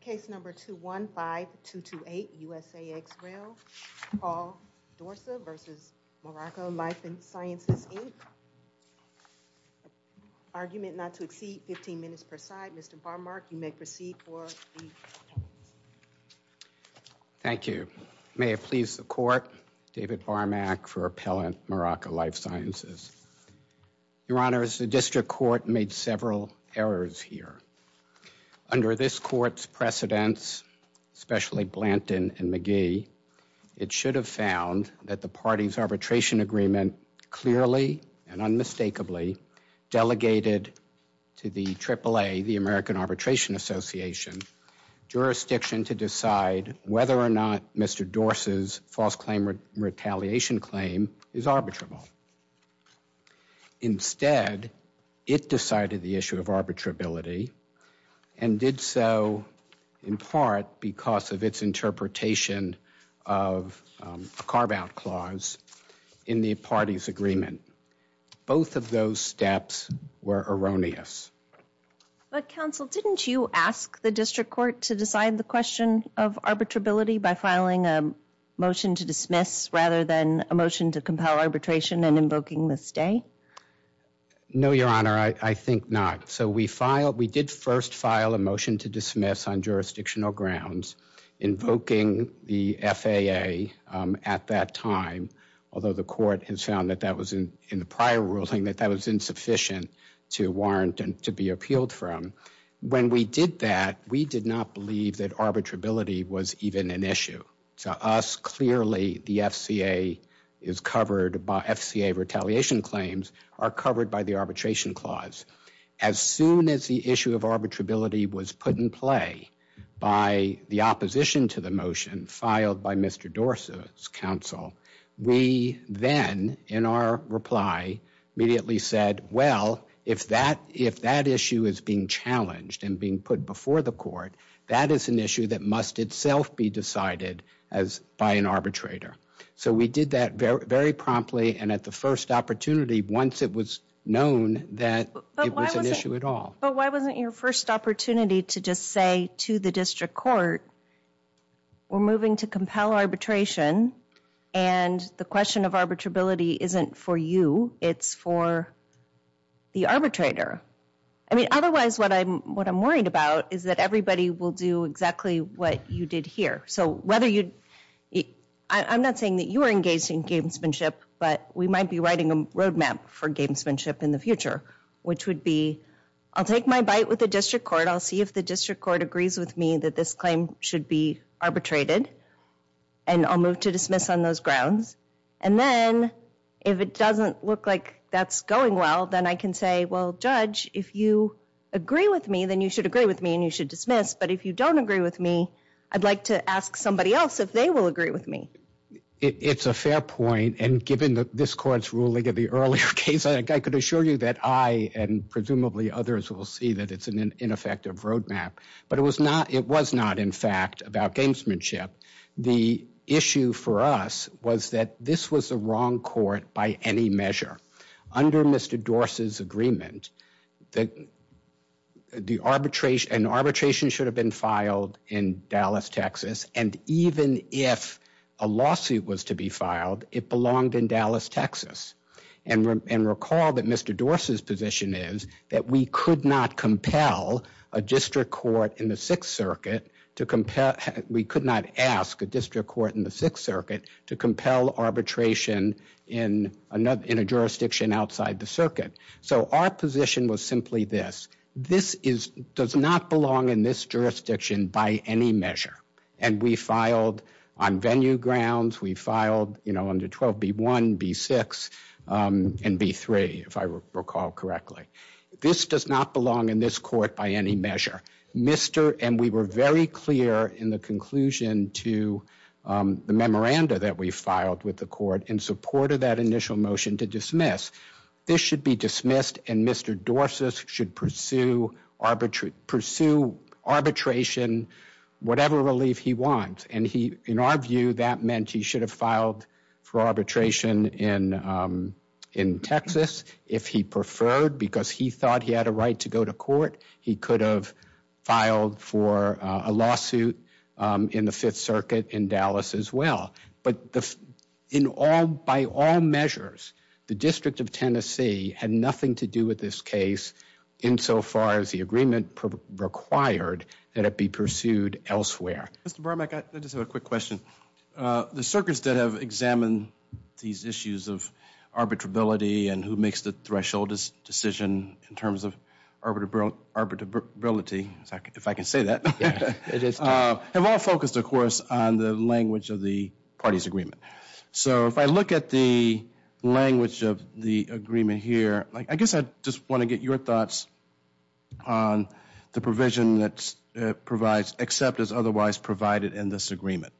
Case number 215228 USA ex rel Paul Dorsa v. Miraca Life and Sciences Inc. Argument not to exceed 15 minutes per side. Mr. Barmack you may proceed for the Thank you. May it please the court David Barmack for appellant Miraca Life Sciences. Your honors the district court made several errors here. Under this court's precedence, especially Blanton and McGee, it should have found that the party's arbitration agreement clearly and unmistakably delegated to the AAA, the American Arbitration Association, jurisdiction to decide whether or not Mr. Dorse's false claim retaliation claim is arbitrable. Instead, it decided the issue of arbitrability and did so in part because of its interpretation of a carve-out clause in the party's agreement. Both of those steps were erroneous. But counsel, didn't you ask the district court to decide the question of arbitrability by filing a motion to compel arbitration and invoking the stay? No, your honor, I think not. So we filed, we did first file a motion to dismiss on jurisdictional grounds, invoking the FAA at that time, although the court has found that that was in in the prior ruling that that was insufficient to warrant and to be appealed from. When we did that, we did not believe that arbitrability was even an issue. To us, clearly, the FCA is covered by FCA retaliation claims are covered by the arbitration clause. As soon as the issue of arbitrability was put in play by the opposition to the motion filed by Mr. Dorse's counsel, we then in our reply immediately said, well, if that if that issue is being challenged and being put before the court, that is an issue that must itself be decided as by an arbitrator. So we did that very promptly and at the first opportunity, once it was known that it was an issue at all. But why wasn't your first opportunity to just say to the district court, we're moving to compel arbitration and the question of arbitrability isn't for you, it's for the arbitrator. I mean, otherwise what I'm worried about is that everybody will do exactly what you did here. So whether you I'm not saying that you are engaged in gamesmanship, but we might be writing a road map for gamesmanship in the future, which would be I'll take my bite with the district court. I'll see if the district court agrees with me that this claim should be arbitrated and I'll move to dismiss on those grounds. And then if it doesn't look like that's going well, then I can say, well, judge, if you agree with me, you should agree with me and you should dismiss. But if you don't agree with me, I'd like to ask somebody else if they will agree with me. It's a fair point. And given that this court's ruling of the earlier case, I could assure you that I and presumably others will see that it's an ineffective road map. But it was not it was not, in fact, about gamesmanship. The issue for us was that this was the wrong court by any measure under Mr. Dorsey's agreement that the arbitration and arbitration should have been filed in Dallas, Texas. And even if a lawsuit was to be filed, it belonged in Dallas, Texas. And recall that Mr. Dorsey's position is that we could not compel a district court in the Sixth Circuit to compel. We could not ask a district court in the Sixth Circuit to compel arbitration in a jurisdiction outside the circuit. So our position was simply this. This does not belong in this jurisdiction by any measure. And we filed on venue grounds. We filed under 12B1, B6, and B3, if I recall correctly. This does not belong in this court by any measure. And we were very clear in the conclusion to the memoranda that we filed with the court in support of that initial motion to dismiss. This should be dismissed, and Mr. Dorsey should pursue arbitration, whatever relief he wants. And in our view, that meant he should have filed for arbitration in Texas if he preferred, because he thought he had a right to go to court. He could have filed for a lawsuit in the Fifth Circuit in Dallas as well. But in all, by all measures, the District of Tennessee had nothing to do with this case insofar as the agreement required that it be pursued elsewhere. Mr. Bromack, I just have a quick question. The circuits that have examined these issues of arbitrability and who makes the threshold decision in terms of arbitrability, if I can say that, have all focused, of course, on the language of the parties' agreement. So if I look at the language of the agreement here, I guess I just want to get your thoughts on the provision that provides except as otherwise provided in this agreement.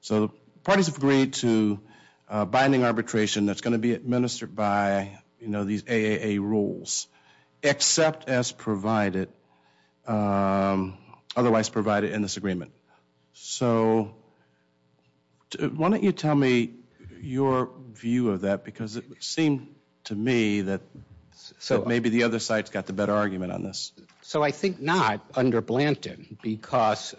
So the parties have agreed to binding arbitration that's going to be rules except as provided otherwise provided in this agreement. So why don't you tell me your view of that, because it seemed to me that maybe the other side's got the better argument on this. So I think not under Blanton, because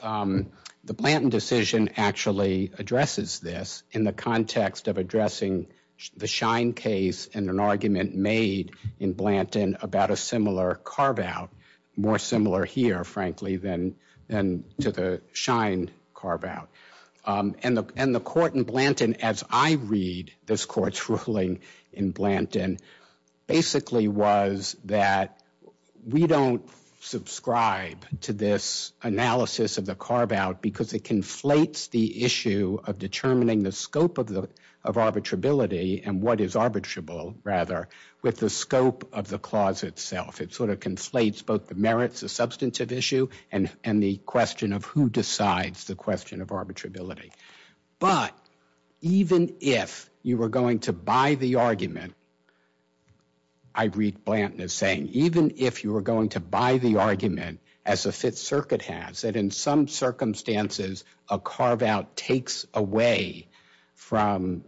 the Blanton decision actually addresses this in the context of addressing the Schein case and an argument made in Blanton about a similar carve-out, more similar here, frankly, than to the Schein carve-out. And the court in Blanton, as I read this court's ruling in Blanton, basically was that we don't subscribe to this analysis of the carve-out because it conflates the issue of determining the scope of arbitrability and what is arbitrable, rather, with the scope of the clause itself. It sort of conflates both the merits, the substantive issue, and the question of who decides the question of arbitrability. But even if you were going to buy the argument, I read Blanton as even if you were going to buy the argument, as the Fifth Circuit has, that in some circumstances, a carve-out takes away from,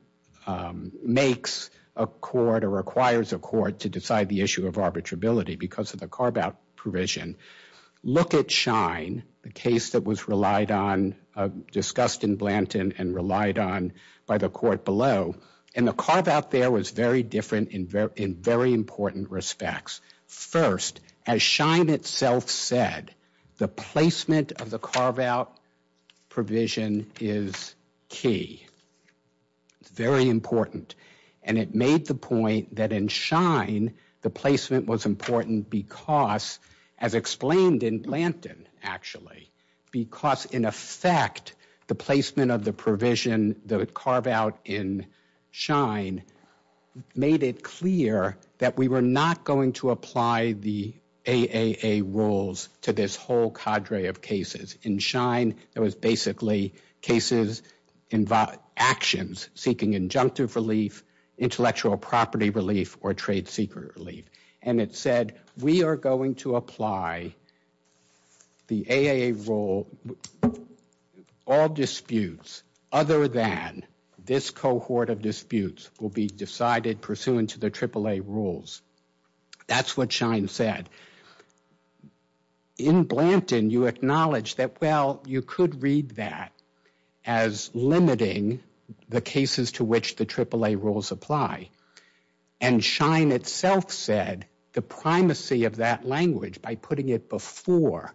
makes a court or requires a court to decide the issue of arbitrability because of the carve-out provision. Look at Schein, the case that was relied on, discussed in Blanton and relied on by the court below, and the carve-out there was very different in very important respects. First, as Schein itself said, the placement of the carve-out provision is key. It's very important. And it made the point that in Schein, the placement was important because, as explained in Blanton, actually, because in effect, the placement of the provision, the carve-out in Schein, made it clear that we were not going to apply the AAA rules to this whole cadre of cases. In Schein, it was basically cases, actions seeking injunctive relief, intellectual property relief, or trade secret relief. And it said, we are going to apply the AAA rule, all disputes other than this cohort of disputes will be decided pursuant to the AAA rules. That's what Schein said. In Blanton, you acknowledge that, well, you could read that as limiting the cases to which the AAA rules apply. And Schein itself said, the primacy of that language, by putting it before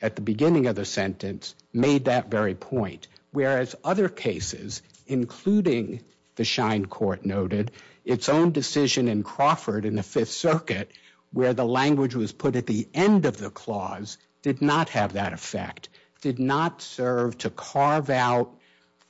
at the beginning of the sentence, made that very point. Whereas other cases, including the Schein court noted, its own decision in Crawford in the Fifth Circuit, where the language was put at the end of the clause, did not have that effect, did not serve to carve out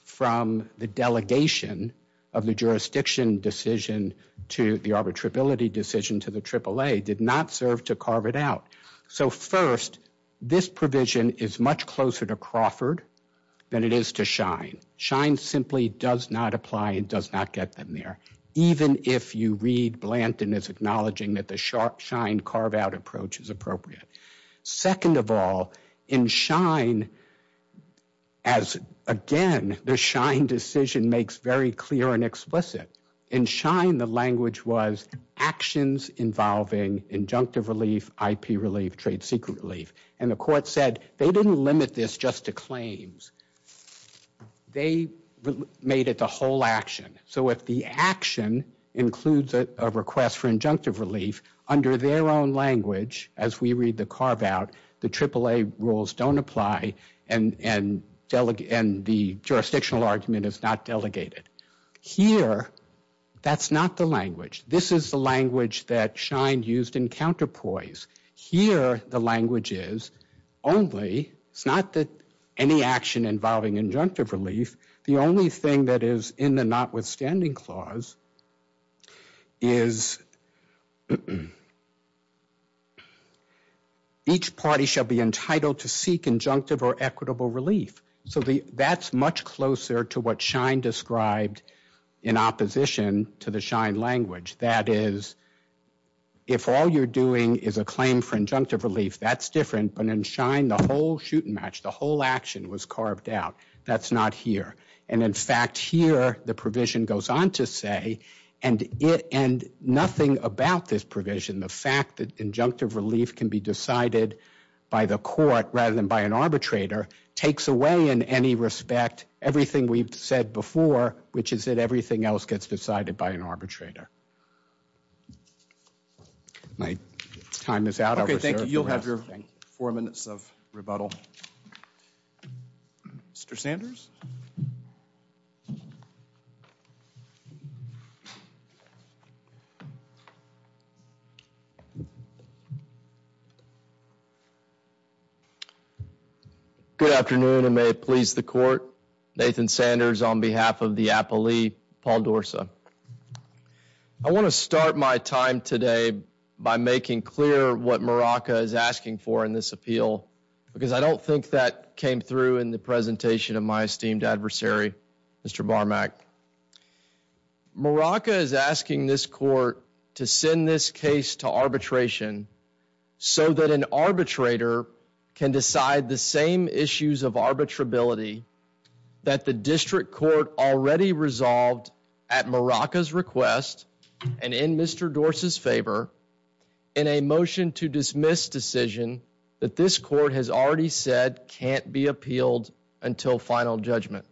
from the delegation of the jurisdiction decision to the arbitrability decision to the AAA, did not serve to carve it out. So first, this provision is much closer to Crawford than it is to Schein. Schein simply does not apply and does not get them there, even if you read Blanton as acknowledging that the Schein carve-out approach is appropriate. Second of all, in Schein, as again, the Schein decision makes very clear and explicit. In Schein, the language was actions involving injunctive relief, IP relief, trade secret relief. And the court said they didn't limit this just to claims. They made it the whole action. So if the carve-out, the AAA rules don't apply and the jurisdictional argument is not delegated. Here, that's not the language. This is the language that Schein used in counterpoise. Here, the language is only, it's not that any action involving injunctive relief, the only thing that is in the notwithstanding clause is each party shall be entitled to seek injunctive or equitable relief. So that's much closer to what Schein described in opposition to the Schein language. That is, if all you're doing is a claim for injunctive relief, that's different. But in Schein, the whole shoot and match, the whole action was carved out. That's not here. And in fact, here, the provision goes on to say, and nothing about this provision, the fact that injunctive relief can be decided by the court rather than by an arbitrator, takes away in any respect everything we've said before, which is that everything else gets decided by an arbitrator. My time is out. Okay, thank you. You'll have your four minutes of rebuttal. Mr. Sanders. Good afternoon, and may it please the court. Nathan Sanders on behalf of the appellee, Paul Dorsa. I want to start my time today by making clear what Maraca is asking for in this appeal, because I don't think that came through in the presentation of my esteemed adversary, Mr. Barmak. Maraca is asking this court to send this case to arbitration so that an arbitrator can decide the same issues of arbitrability that the district court already resolved at Maraca's request and in Mr. Dorsa's favor in a motion to dismiss decision that this court has already said can't be appealed until final judgment.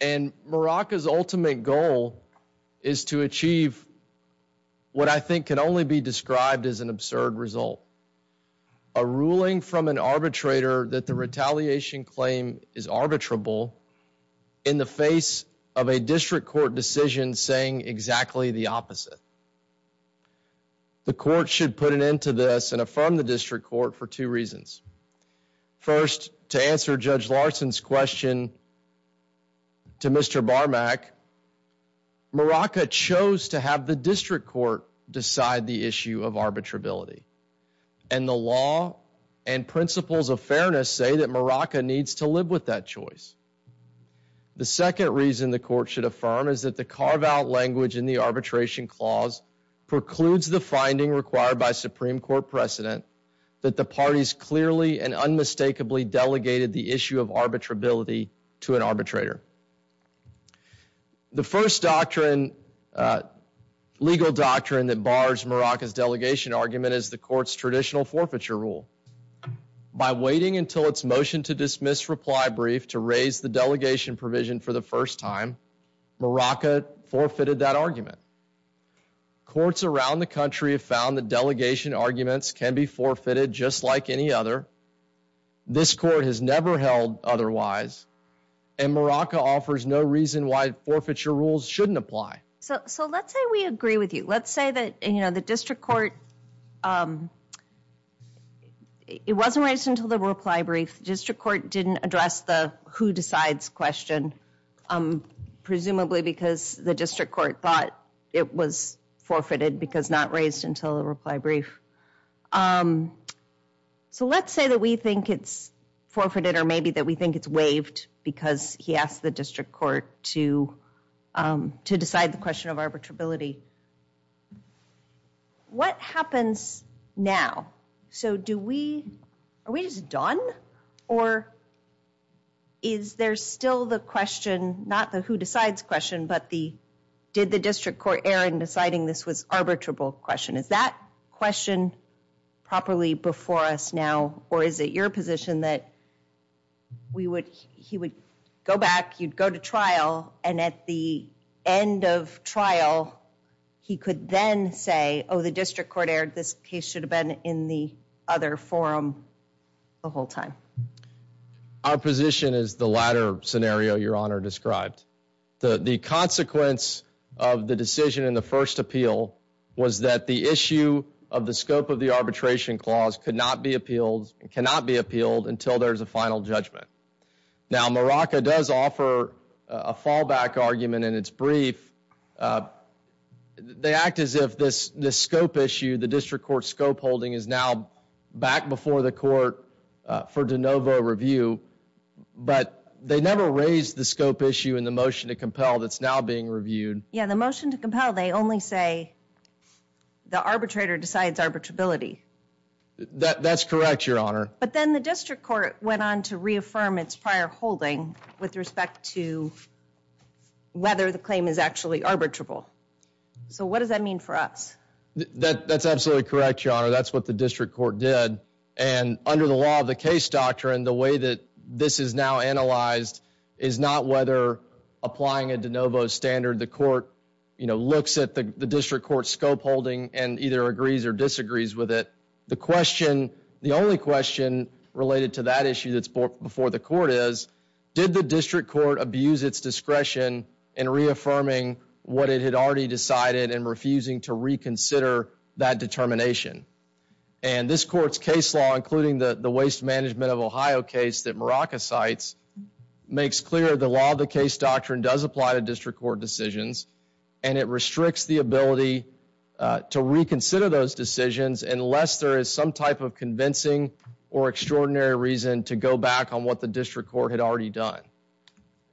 And Maraca's ultimate goal is to achieve what I think can only be described as an absurd result, a ruling from an arbitrator that the retaliation claim is arbitrable in the face of a district court decision saying exactly the opposite. The court should put an end to this and affirm the district court for two reasons. First, to answer Judge Larson's question to Mr. Barmak, Maraca chose to have the district court decide the issue of arbitrability, and the law and principles of fairness say that Maraca needs to live with that choice. The second reason the court should affirm is that the carve-out language in the arbitration clause precludes the finding required by Supreme Court precedent that the parties clearly and uh legal doctrine that bars Maraca's delegation argument is the court's traditional forfeiture rule. By waiting until its motion to dismiss reply brief to raise the delegation provision for the first time, Maraca forfeited that argument. Courts around the country have found that delegation arguments can be forfeited just like any other. This court has never held otherwise, and Maraca offers no reason why forfeiture rules shouldn't apply. So so let's say we agree with you. Let's say that you know the district court um it wasn't raised until the reply brief. District court didn't address the who decides question um presumably because the district court thought it was forfeited because not raised until the waived because he asked the district court to um to decide the question of arbitrability. What happens now? So do we are we just done or is there still the question not the who decides question but the did the district court err in deciding this was arbitrable question? Is that question properly before us now or is it your position that we would he would go back you'd go to trial and at the end of trial he could then say oh the district court aired this case should have been in the other forum the whole time. Our position is the latter scenario your honor the the consequence of the decision in the first appeal was that the issue of the scope of the arbitration clause could not be appealed and cannot be appealed until there's a final judgment. Now Maraca does offer a fallback argument in its brief. They act as if this this scope issue the district court scope holding is now back before the court for de novo review but they never raised the scope issue in the motion to compel that's now being reviewed. Yeah the motion to compel they only say the arbitrator decides arbitrability. That that's correct your honor. But then the district court went on to reaffirm its prior holding with respect to whether the claim is actually arbitrable. So what does that mean for us? That that's absolutely correct your honor that's what the district court did and under the law of the case doctrine the way that this is now analyzed is not whether applying a de novo standard the court you know looks at the district court scope holding and either agrees or disagrees with it. The question the only question related to that issue that's before the court is did the district court abuse its discretion in reaffirming what it had already decided and refusing to reaffirm what it had already decided. And that's why the the waste management of Ohio case that Maraca cites makes clear the law of the case doctrine does apply to district court decisions and it restricts the ability to reconsider those decisions unless there is some type of convincing or extraordinary reason to go back on what the district court had already done.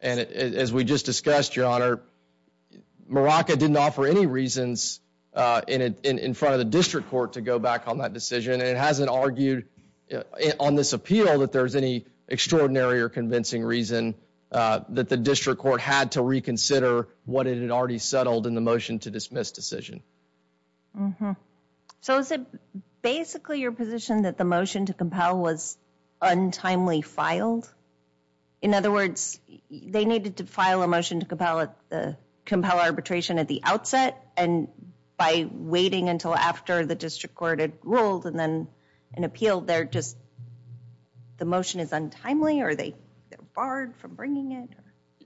And as we just discussed your honor Maraca didn't offer any reasons in front of the district court to go back on that decision and it hasn't argued on this appeal that there's any extraordinary or convincing reason that the district court had to reconsider what it had already settled in the motion to dismiss decision. So is it basically your position that the motion to compel was untimely filed? In other words they needed to file a motion to compel it the compel arbitration at the outset and by waiting until after the district court had ruled and then an appeal they're just the motion is untimely or they they're barred from bringing it?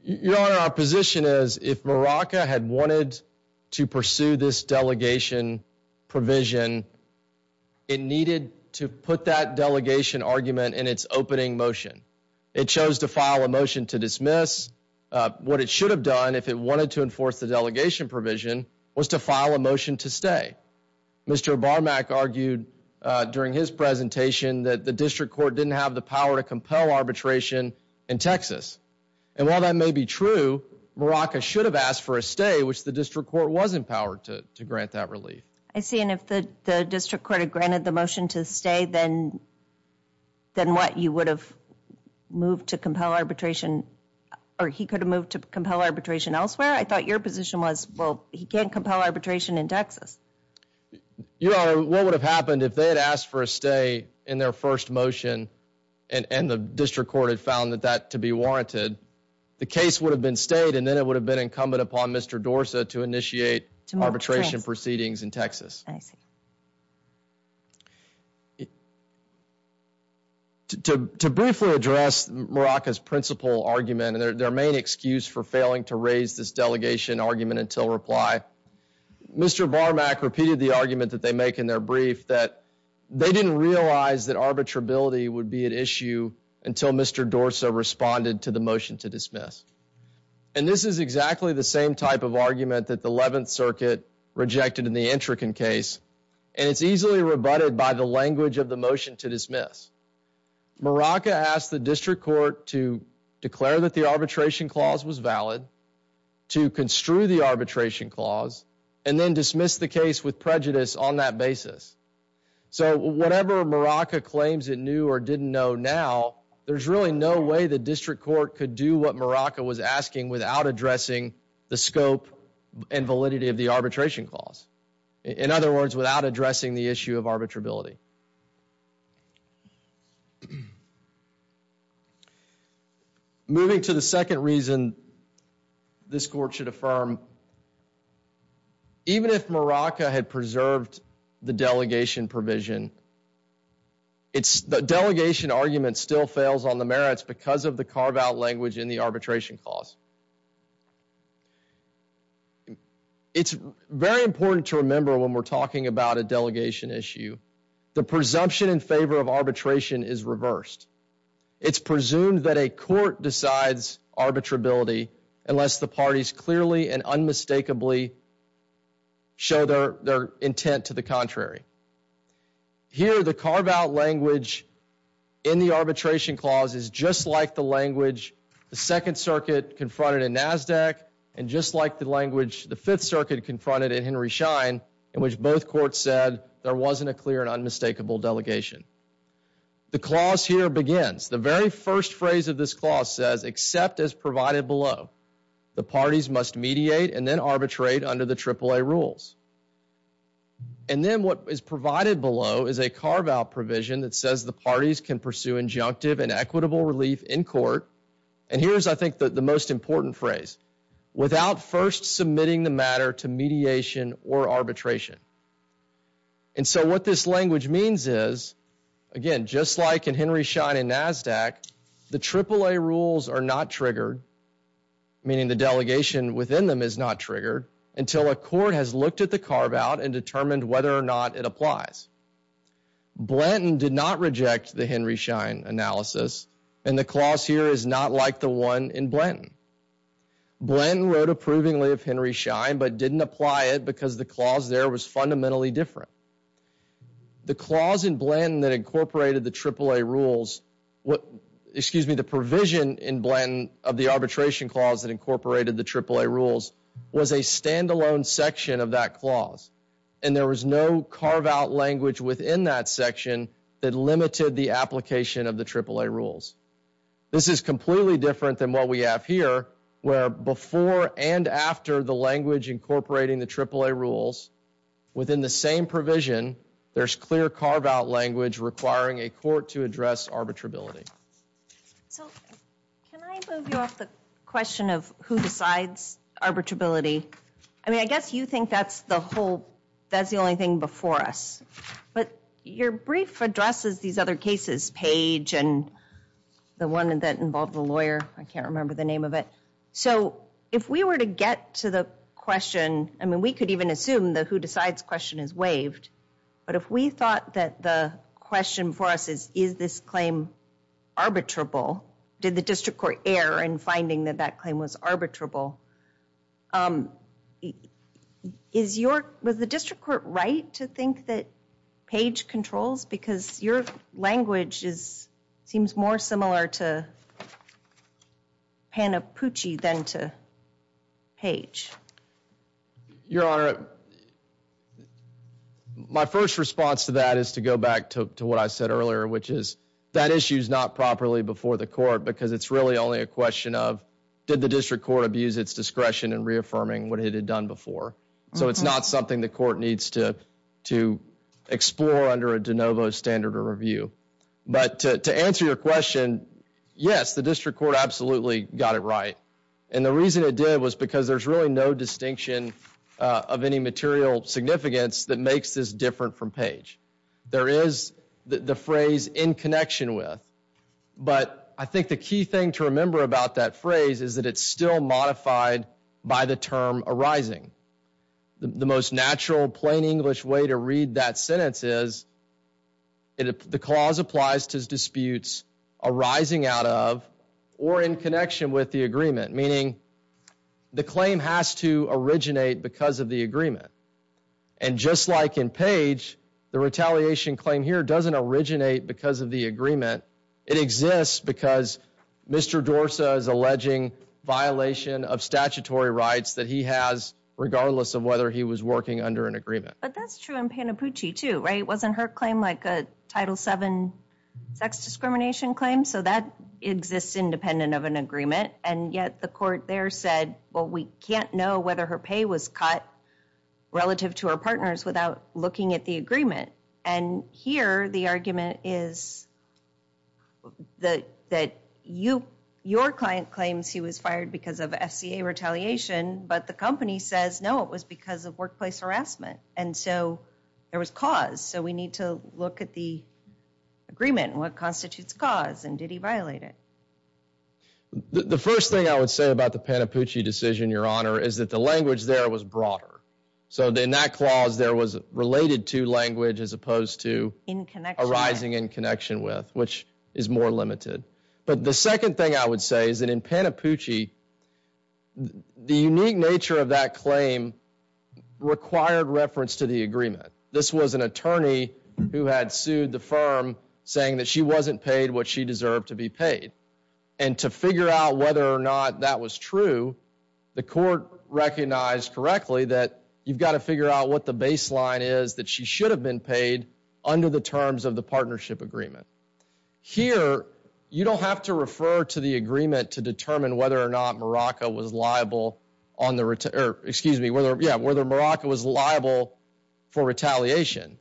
Your honor our position is if Maraca had wanted to pursue this delegation provision it needed to put that delegation argument in its opening motion. It chose to file a motion to dismiss. What it should have done if it wanted to enforce the delegation provision was to file a motion to stay. Mr. Barmak argued during his presentation that the district court didn't have the power to compel arbitration in Texas and while that may be true Maraca should have asked for a stay which the district court was empowered to to grant that relief. I see and if the the district court had filed a motion to stay then then what you would have moved to compel arbitration or he could have moved to compel arbitration elsewhere? I thought your position was well he can't compel arbitration in Texas. Your honor what would have happened if they had asked for a stay in their first motion and and the district court had found that that to be warranted the case would have been stayed and then it would have been incumbent upon Mr. Dorsa to initiate arbitration proceedings in Texas. I see. It to to briefly address Maraca's principal argument and their main excuse for failing to raise this delegation argument until reply. Mr. Barmak repeated the argument that they make in their brief that they didn't realize that arbitrability would be an issue until Mr. Dorsa responded to the motion to dismiss and this is exactly the same type of argument that the 11th of the motion to dismiss. Maraca asked the district court to declare that the arbitration clause was valid to construe the arbitration clause and then dismiss the case with prejudice on that basis. So whatever Maraca claims it knew or didn't know now there's really no way the district court could do what Maraca was asking without addressing the scope and validity of the arbitrability. Moving to the second reason this court should affirm even if Maraca had preserved the delegation provision it's the delegation argument still fails on the merits because of the carve-out language in the arbitration clause. It's very important to remember when we're talking about a delegation issue the presumption in favor of arbitration is reversed. It's presumed that a court decides arbitrability unless the parties clearly and unmistakably show their their intent to the contrary. Here the carve-out language in the arbitration clause is just like the language the second circuit confronted in NASDAQ and just like the language the fifth circuit confronted in Henry Schein in which both courts said there wasn't a clear and unmistakable delegation. The clause here begins the very first phrase of this clause says except as provided below the parties must mediate and then arbitrate under the AAA rules. And then what is provided below is a carve-out provision that says the parties can pursue injunctive and equitable relief in court and here's I think the most important phrase without first submitting the matter to mediation or arbitration. And so what this language means is again just like in Henry Schein in NASDAQ the AAA rules are not triggered meaning the delegation within them is not triggered until a court has looked at the carve-out and determined whether or not it applies. Blanton did not reject the Henry Schein analysis and the clause here is not like the one in Blanton. Blanton wrote approvingly of Henry Schein but didn't apply it because the clause there was fundamentally different. The clause in Blanton that incorporated the AAA rules what excuse me the provision in Blanton of the arbitration clause that incorporated the AAA rules was a standalone section of that section that limited the application of the AAA rules. This is completely different than what we have here where before and after the language incorporating the AAA rules within the same provision there's clear carve-out language requiring a court to address arbitrability. So can I move you off the question of who decides arbitrability? I mean I guess you think that's the whole that's the only thing before us but your brief addresses these other cases page and the one that involved the lawyer I can't remember the name of it. So if we were to get to the question I mean we could even assume the who decides question is waived but if we thought that the question for us is is this claim arbitrable did the district court err in finding that that was the district court right to think that page controls because your language is seems more similar to Panapucci than to page. Your honor my first response to that is to go back to what I said earlier which is that issue's not properly before the court because it's really only a question of did the district court abuse its discretion in reaffirming what it had done before so it's not something the court needs to to explore under a de novo standard or review but to answer your question yes the district court absolutely got it right and the reason it did was because there's really no distinction of any material significance that makes this different from page. There is the phrase in connection with but I think the key thing to remember about that phrase is that it's still modified by the term arising the most natural plain English way to read that sentence is it the clause applies to disputes arising out of or in connection with the agreement meaning the claim has to originate because of the agreement and just like in page the retaliation claim here doesn't originate because of the agreement it exists because Mr. Dorsa is alleging violation of statutory rights that he has regardless of whether he was working under an agreement. But that's true in Panapucci too right it wasn't her claim like a title 7 sex discrimination claim so that exists independent of an agreement and yet the court there said well we can't know whether her pay was cut relative to her partners without looking at the agreement and here the argument is that that you your client claims he was fired because of FCA retaliation but the company says no it was because of workplace harassment and so there was cause so we need to look at the agreement what constitutes cause and did he violate it. The first thing I would say about the Panapucci decision your honor is that the language there was broader so in that clause there was related to language as opposed to in connection arising in connection with which is more limited but the second thing I would say is that in Panapucci the unique nature of that claim required reference to the agreement this was an attorney who had sued the firm saying that she wasn't paid what she deserved to be paid and to figure out whether or not that was true the court recognized correctly that you've got to figure out what the baseline is that she should have been paid under the terms of the partnership agreement here you don't have to refer to the agreement to determine whether or not Morocco was liable on the return excuse me whether yeah whether Morocco was liable for retaliation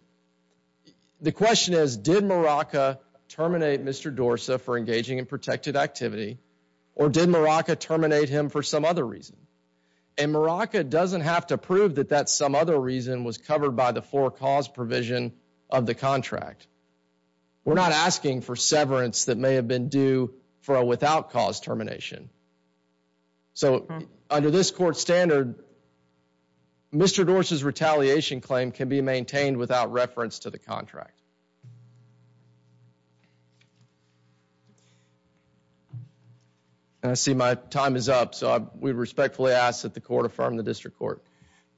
the question is did Morocco terminate Mr. Dorsa for engaging in protected activity or did Morocco terminate him for some other reason and Morocco doesn't have to prove that that some other reason was covered by the four cause provision of the contract we're not asking for severance that may have been due for a without cause termination so under this court standard Mr. Dorsa's retaliation claim can be maintained without reference to the contract I see my time is up so we respectfully ask that the court affirm the district court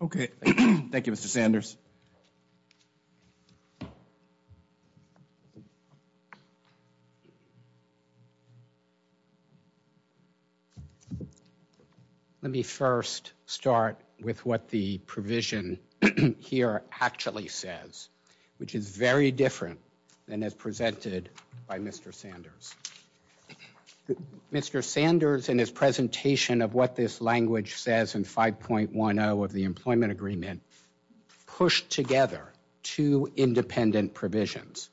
okay thank you Mr. Sanders so let me first start with what the provision here actually says which is very different than as presented by Mr. Sanders Mr. Sanders in his presentation of what this language says in 5.10 the employment agreement pushed together two independent provisions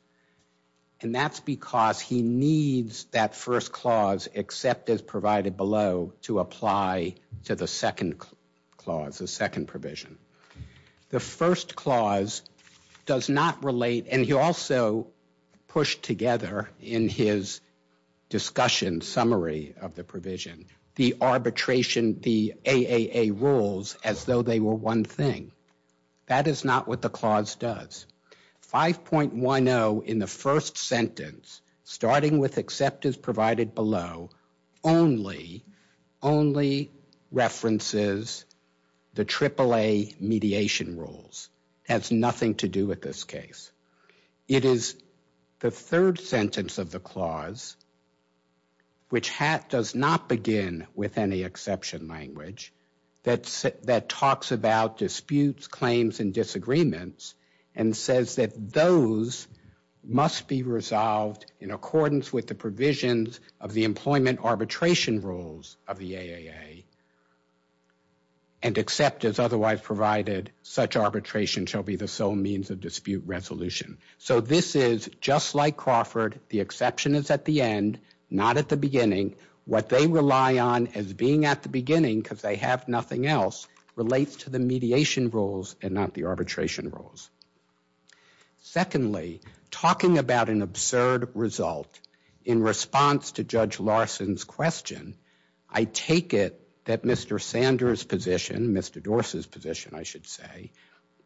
and that's because he needs that first clause except as provided below to apply to the second clause the second provision the first clause does not relate and he also pushed together in his discussion summary of they were one thing that is not what the clause does 5.10 in the first sentence starting with except as provided below only only references the triple a mediation rules has nothing to do with this case it is the third sentence of the clause which hat does not begin with any exception language that's that talks about disputes claims and disagreements and says that those must be resolved in accordance with the provisions of the employment arbitration rules of the aaa and except as otherwise provided such arbitration shall be the sole means of dispute resolution so this is just like Crawford the exception is at the end not at the beginning what they rely on as being at the beginning because they have nothing else relates to the mediation rules and not the arbitration rules secondly talking about an absurd result in response to Judge Larson's question I take it that Mr. Sanders position Mr. Dorse's position I should say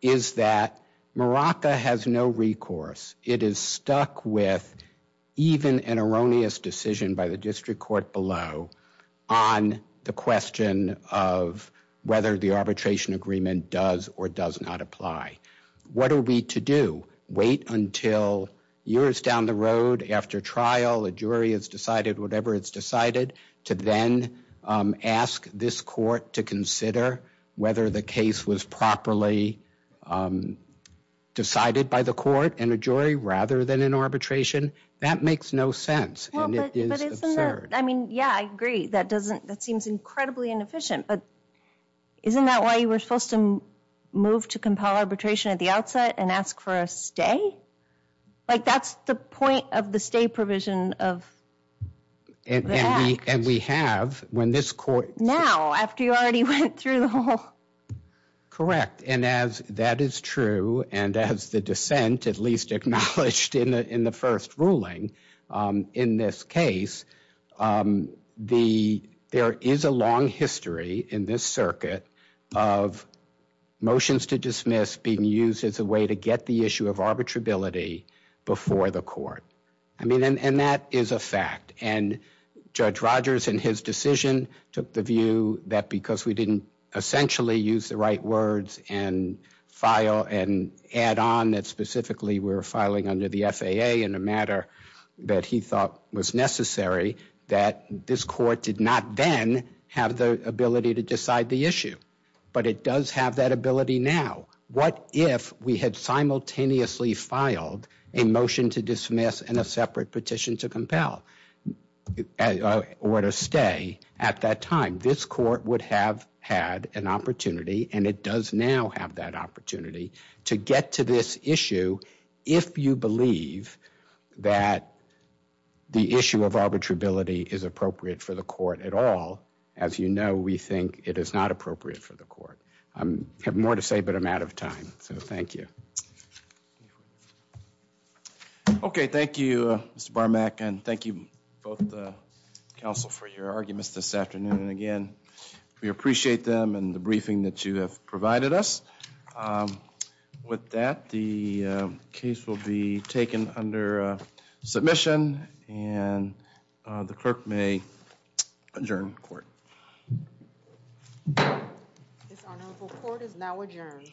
is that maraca has no recourse it is stuck with even an erroneous decision by the district court below on the question of whether the arbitration agreement does or does not apply what are we to do wait until years down the road after trial a jury has decided whatever it's decided to then ask this court to consider whether the case was properly decided by the court and a jury rather than an arbitration that makes no sense but I mean yeah I agree that doesn't that seems incredibly inefficient but isn't that why you were supposed to move to compel arbitration at the outset and ask for a stay like that's the point of the stay provision of and we have when this court now after you already went through the whole correct and as that is true and as the dissent at least acknowledged in the in the first ruling in this case the there is a long history in this circuit of motions to dismiss being used as a way to get the issue of arbitrability before the court I mean and that is a fact and Judge Rogers and his decision took the view that because we didn't essentially use the right words and file and add on that specifically we're filing under the FAA in a matter that he thought was necessary that this court did not then have the ability to decide the issue but it does have that ability now what if we had simultaneously filed a motion to dismiss and a separate petition to compel or to stay at that time this court would have had an opportunity and it does now have that opportunity to get to this issue if you believe that the issue of arbitrability is appropriate for the court at all as you know we think it is not appropriate for the bar mac and thank you both the council for your arguments this afternoon and again we appreciate them and the briefing that you have provided us with that the case will be taken under submission and the clerk may adjourn court this honorable court is now adjourned